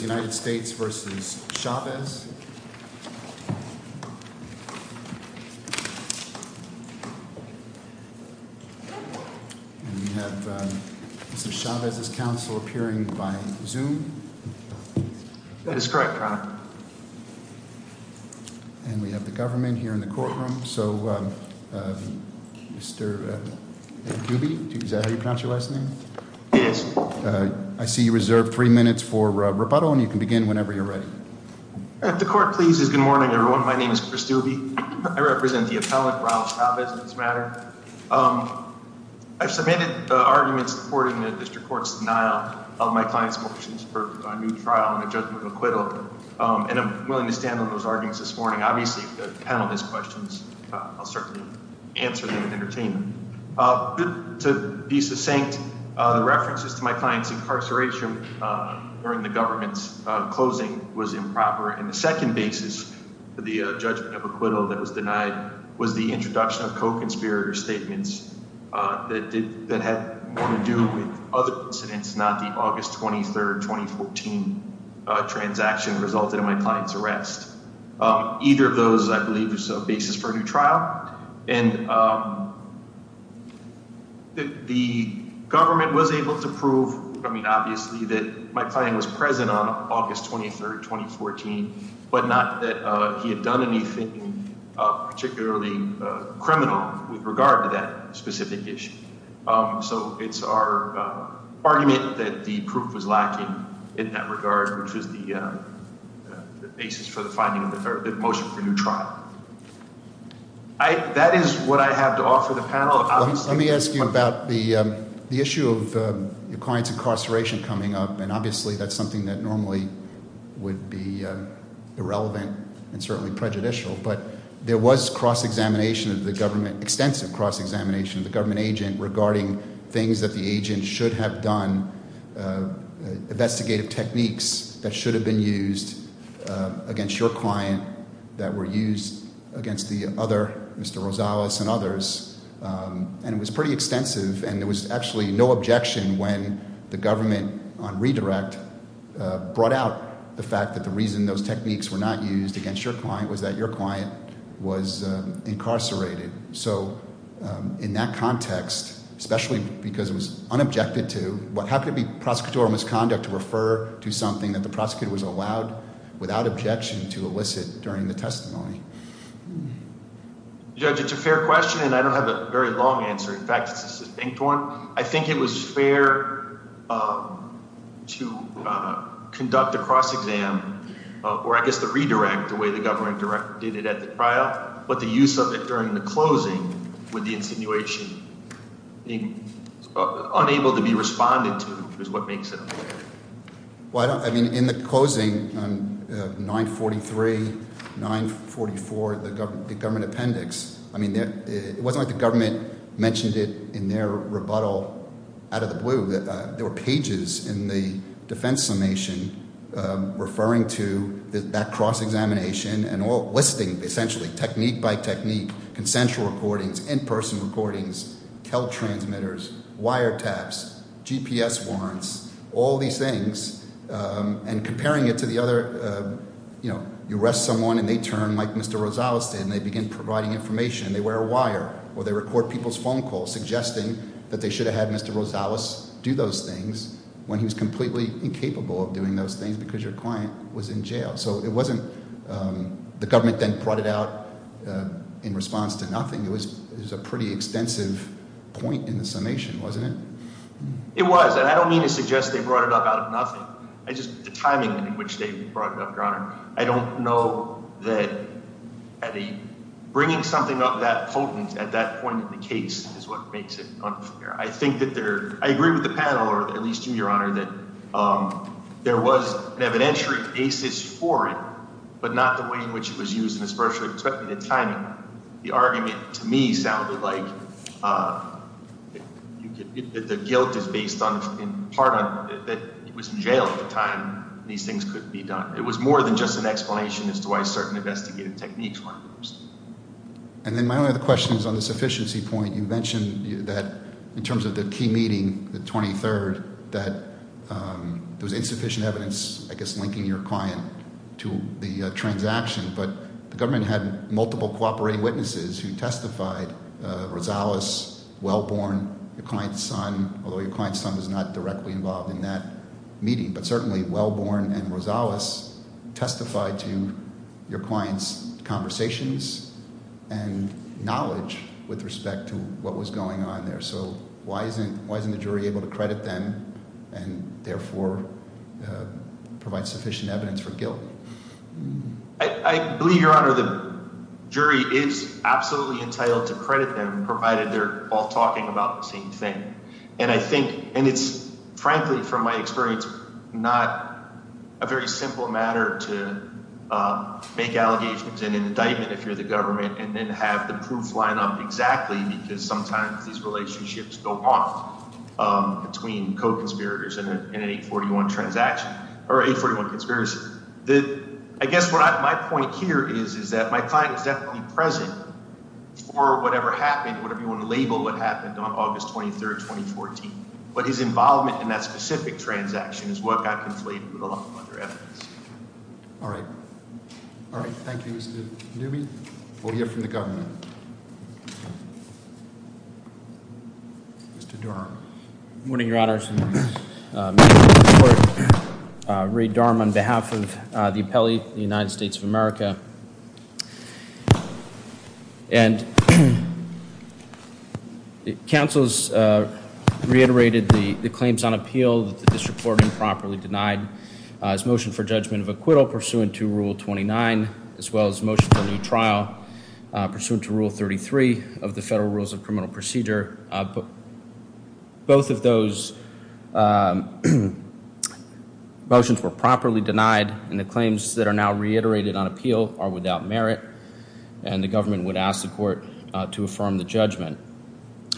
We have Mr. Chavez's counsel appearing by Zoom and we have the government here in the courtroom. So Mr. Dubey, is that how you pronounce your last name? It is. I see you reserved three minutes for rebuttal and you can begin whenever you're ready. If the court pleases, good morning everyone. My name is Chris Dubey. I represent the appellant, Raul Chavez, in this matter. I've submitted arguments supporting the district court's denial of my client's motions for a new trial and a judgment of acquittal and I'm willing to stand on those arguments this morning. Obviously, if the panel has questions, I'll certainly answer them in entertainment. To be succinct, the references to my client's incarceration during the government's closing was improper and the second basis for the judgment of acquittal that was denied was the introduction of co-conspirator statements that had more to do with other incidents, not the August 23, 2014 transaction resulted in my client's arrest. Either of those, I believe, is a basis for a new trial and the government was able to prove, I mean obviously, that my client was present on August 23, 2014, but not that he had done anything particularly criminal with regard to that specific issue. So it's our argument that the proof was lacking in that regard, which is the basis for the finding of the motion for a new trial. That is what I have to offer the panel. Let me ask you about the issue of your client's incarceration coming up and obviously that's something that normally would be irrelevant and certainly prejudicial, but there was cross examination of the government agent regarding things that the agent should have done, investigative techniques that should have been used against your client that were used against the other, Mr. Rosales and others, and it was pretty extensive and there was actually no objection when the government on redirect brought out the fact that the reason those techniques were not used against your client was that your client was incarcerated. So in that context, especially because it was unobjected to, how could it be prosecutorial misconduct to refer to something that the prosecutor was allowed without objection to elicit during the testimony? Judge, it's a fair question and I don't have a very long answer. In fact, it's a succinct one. I think it was fair to conduct a cross exam, or I guess the redirect, the way the government did it at the trial, but the use of it during the closing with the insinuation being unable to be responded to is what makes it unfair. Well, I mean, in the closing, 943, 944, the government appendix, I mean, it wasn't like the government mentioned it in their rebuttal out of the blue. There were pages in the defense summation referring to that cross examination and listing, essentially, technique by technique, consensual recordings, in-person recordings, teltransmitters, wiretaps, GPS warrants, all these things, and comparing it to the other, you arrest someone and they turn like Mr. Rosales did and they begin providing information and they wear a wire or they record people's phone calls suggesting that they should have had Mr. Rosales do those things when he was completely incapable of doing those things because your client was in jail. So it wasn't the government then brought it out in response to nothing. It was a pretty extensive point in the summation, wasn't it? It was, and I don't mean to suggest they brought it up out of nothing. It's just the timing in which they brought it up, Your Honor. I don't know that bringing something up that potent at that point in the case is what makes it unfair. I agree with the panel, or at least you, Your Honor, that there was an evidentiary basis for it, but not the way in which it was used and especially the timing. The argument to me sounded like the guilt is based in part on that he was in jail at the time and these things could be done. It was more than just an explanation as to why certain investigative techniques weren't used. And then my other question is on the sufficiency point. You mentioned that in terms of the key meeting, the 23rd, that there was insufficient evidence, I guess, linking your client to the transaction, but the government had multiple cooperating witnesses who testified, Rosales, Wellborn, your client's son, although your client's son was not directly involved in that meeting, but certainly Wellborn and Rosales testified to your client's conversations and knowledge with respect to what was going on there. So why isn't the jury able to credit them and therefore provide sufficient evidence for guilt? I believe, Your Honor, the jury is absolutely entitled to credit them provided they're all talking about the same thing. And it's, frankly, from my experience, not a very simple matter to make allegations and indictment if you're the government and then have the proof line up exactly because sometimes these relationships go wrong between co-conspirators in an 841 transaction or 841 conspiracy. I guess my point here is that my client was definitely present for whatever happened, whatever you want to label what happened on August 23rd, 2014, but his involvement in that specific transaction is what got conflated with a lot of other evidence. All right. All right. Thank you, Mr. Newby. We'll hear from the government. Mr. Durham. Good morning, Your Honor. I'm here to report Ray Durham on behalf of the appellee of the United States of America. And counsel has reiterated the claims on appeal that the district court improperly denied his motion for judgment of acquittal pursuant to Rule 29, as well as motion for new trial pursuant to Rule 33 of the Federal Rules of Criminal Procedure. Both of those motions were properly denied, and the claims that are now reiterated on appeal are without merit, and the government would ask the court to affirm the judgment.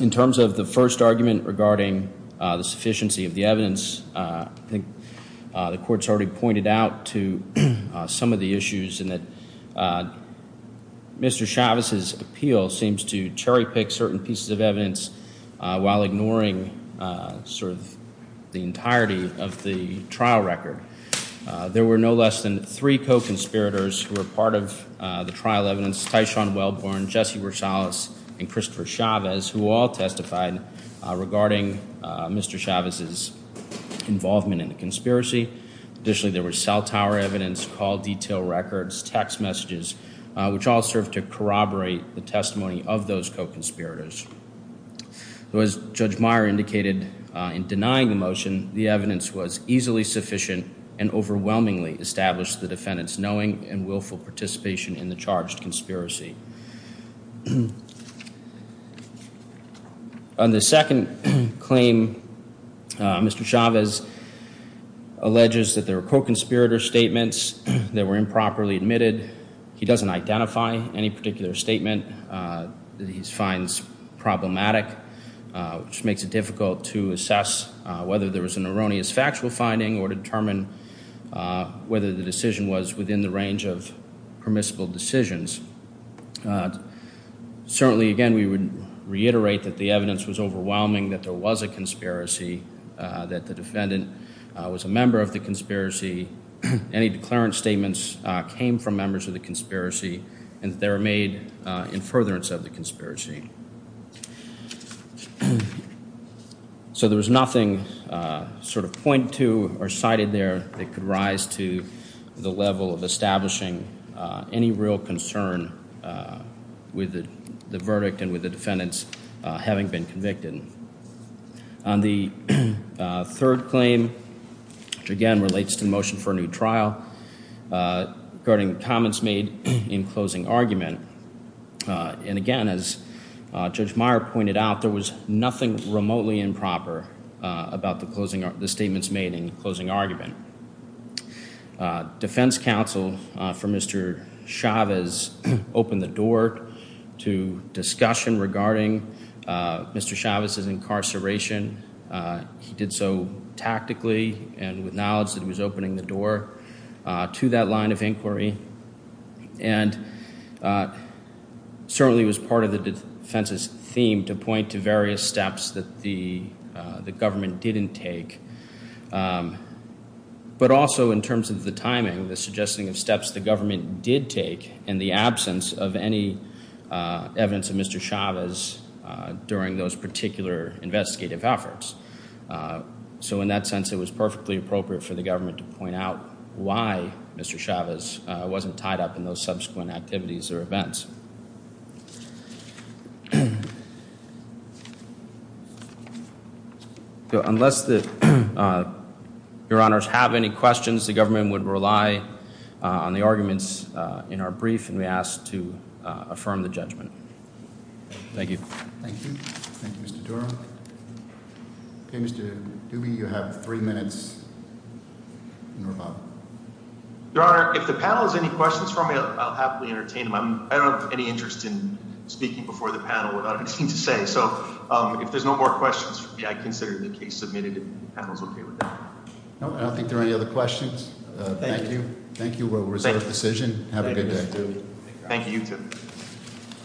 In terms of the first argument regarding the sufficiency of the evidence, I think the court's already pointed out to some of the issues in that Mr. Chavez's appeal seems to cherry-pick certain pieces of evidence while ignoring sort of the entirety of the trial record. There were no less than three co-conspirators who were part of the trial evidence, Tyshawn Wellborn, Jesse Rosales, and Christopher Chavez, who all testified regarding Mr. Chavez's involvement in the conspiracy. Additionally, there was cell tower evidence, call detail records, text messages, which all served to corroborate the testimony of those co-conspirators. As Judge Meyer indicated in denying the motion, the evidence was easily sufficient and overwhelmingly established the defendant's knowing and willful participation in the charged conspiracy. On the second claim, Mr. Chavez alleges that there were co-conspirator statements that were improperly admitted. He doesn't identify any particular statement that he finds problematic, which makes it difficult to assess whether there was an erroneous factual finding or determine whether the decision was within the range of permissible decisions. Certainly, again, we would reiterate that the evidence was overwhelming, that there was a conspiracy, that the defendant was a member of the conspiracy. Any declarant statements came from members of the conspiracy and that they were made in furtherance of the conspiracy. So there was nothing sort of pointed to or cited there that could rise to the level of establishing any real concern with the verdict and with the defendants having been convicted. On the third claim, which again relates to the motion for a new trial, regarding comments made in closing argument, and again, as Judge Meyer pointed out, there was nothing remotely improper about the statements made in closing argument. Defense counsel for Mr. Chavez opened the door to discussion regarding Mr. Chavez's incarceration. He did so tactically and with knowledge that he was opening the door to that line of inquiry and certainly was part of the defense's theme to point to various steps that the government didn't take. But also in terms of the timing, the suggesting of steps the government did take in the absence of any evidence of Mr. Chavez during those particular investigative efforts. So in that sense, it was perfectly appropriate for the government to point out why Mr. Chavez wasn't tied up in those subsequent activities or events. So unless the, your honors, have any questions, the government would rely on the arguments in our brief and we ask to affirm the judgment. Thank you. Thank you. Thank you, Mr. Durham. Okay, Mr. Doobie, you have three minutes. Your honor, if the panel has any questions for me, I'll happily entertain them. I don't have any interest in speaking before the panel without anything to say. So if there's no more questions for me, I consider the case submitted and the panel is okay with that. I don't think there are any other questions. Thank you. Thank you. We'll reserve the decision. Have a good day. Thank you, you too.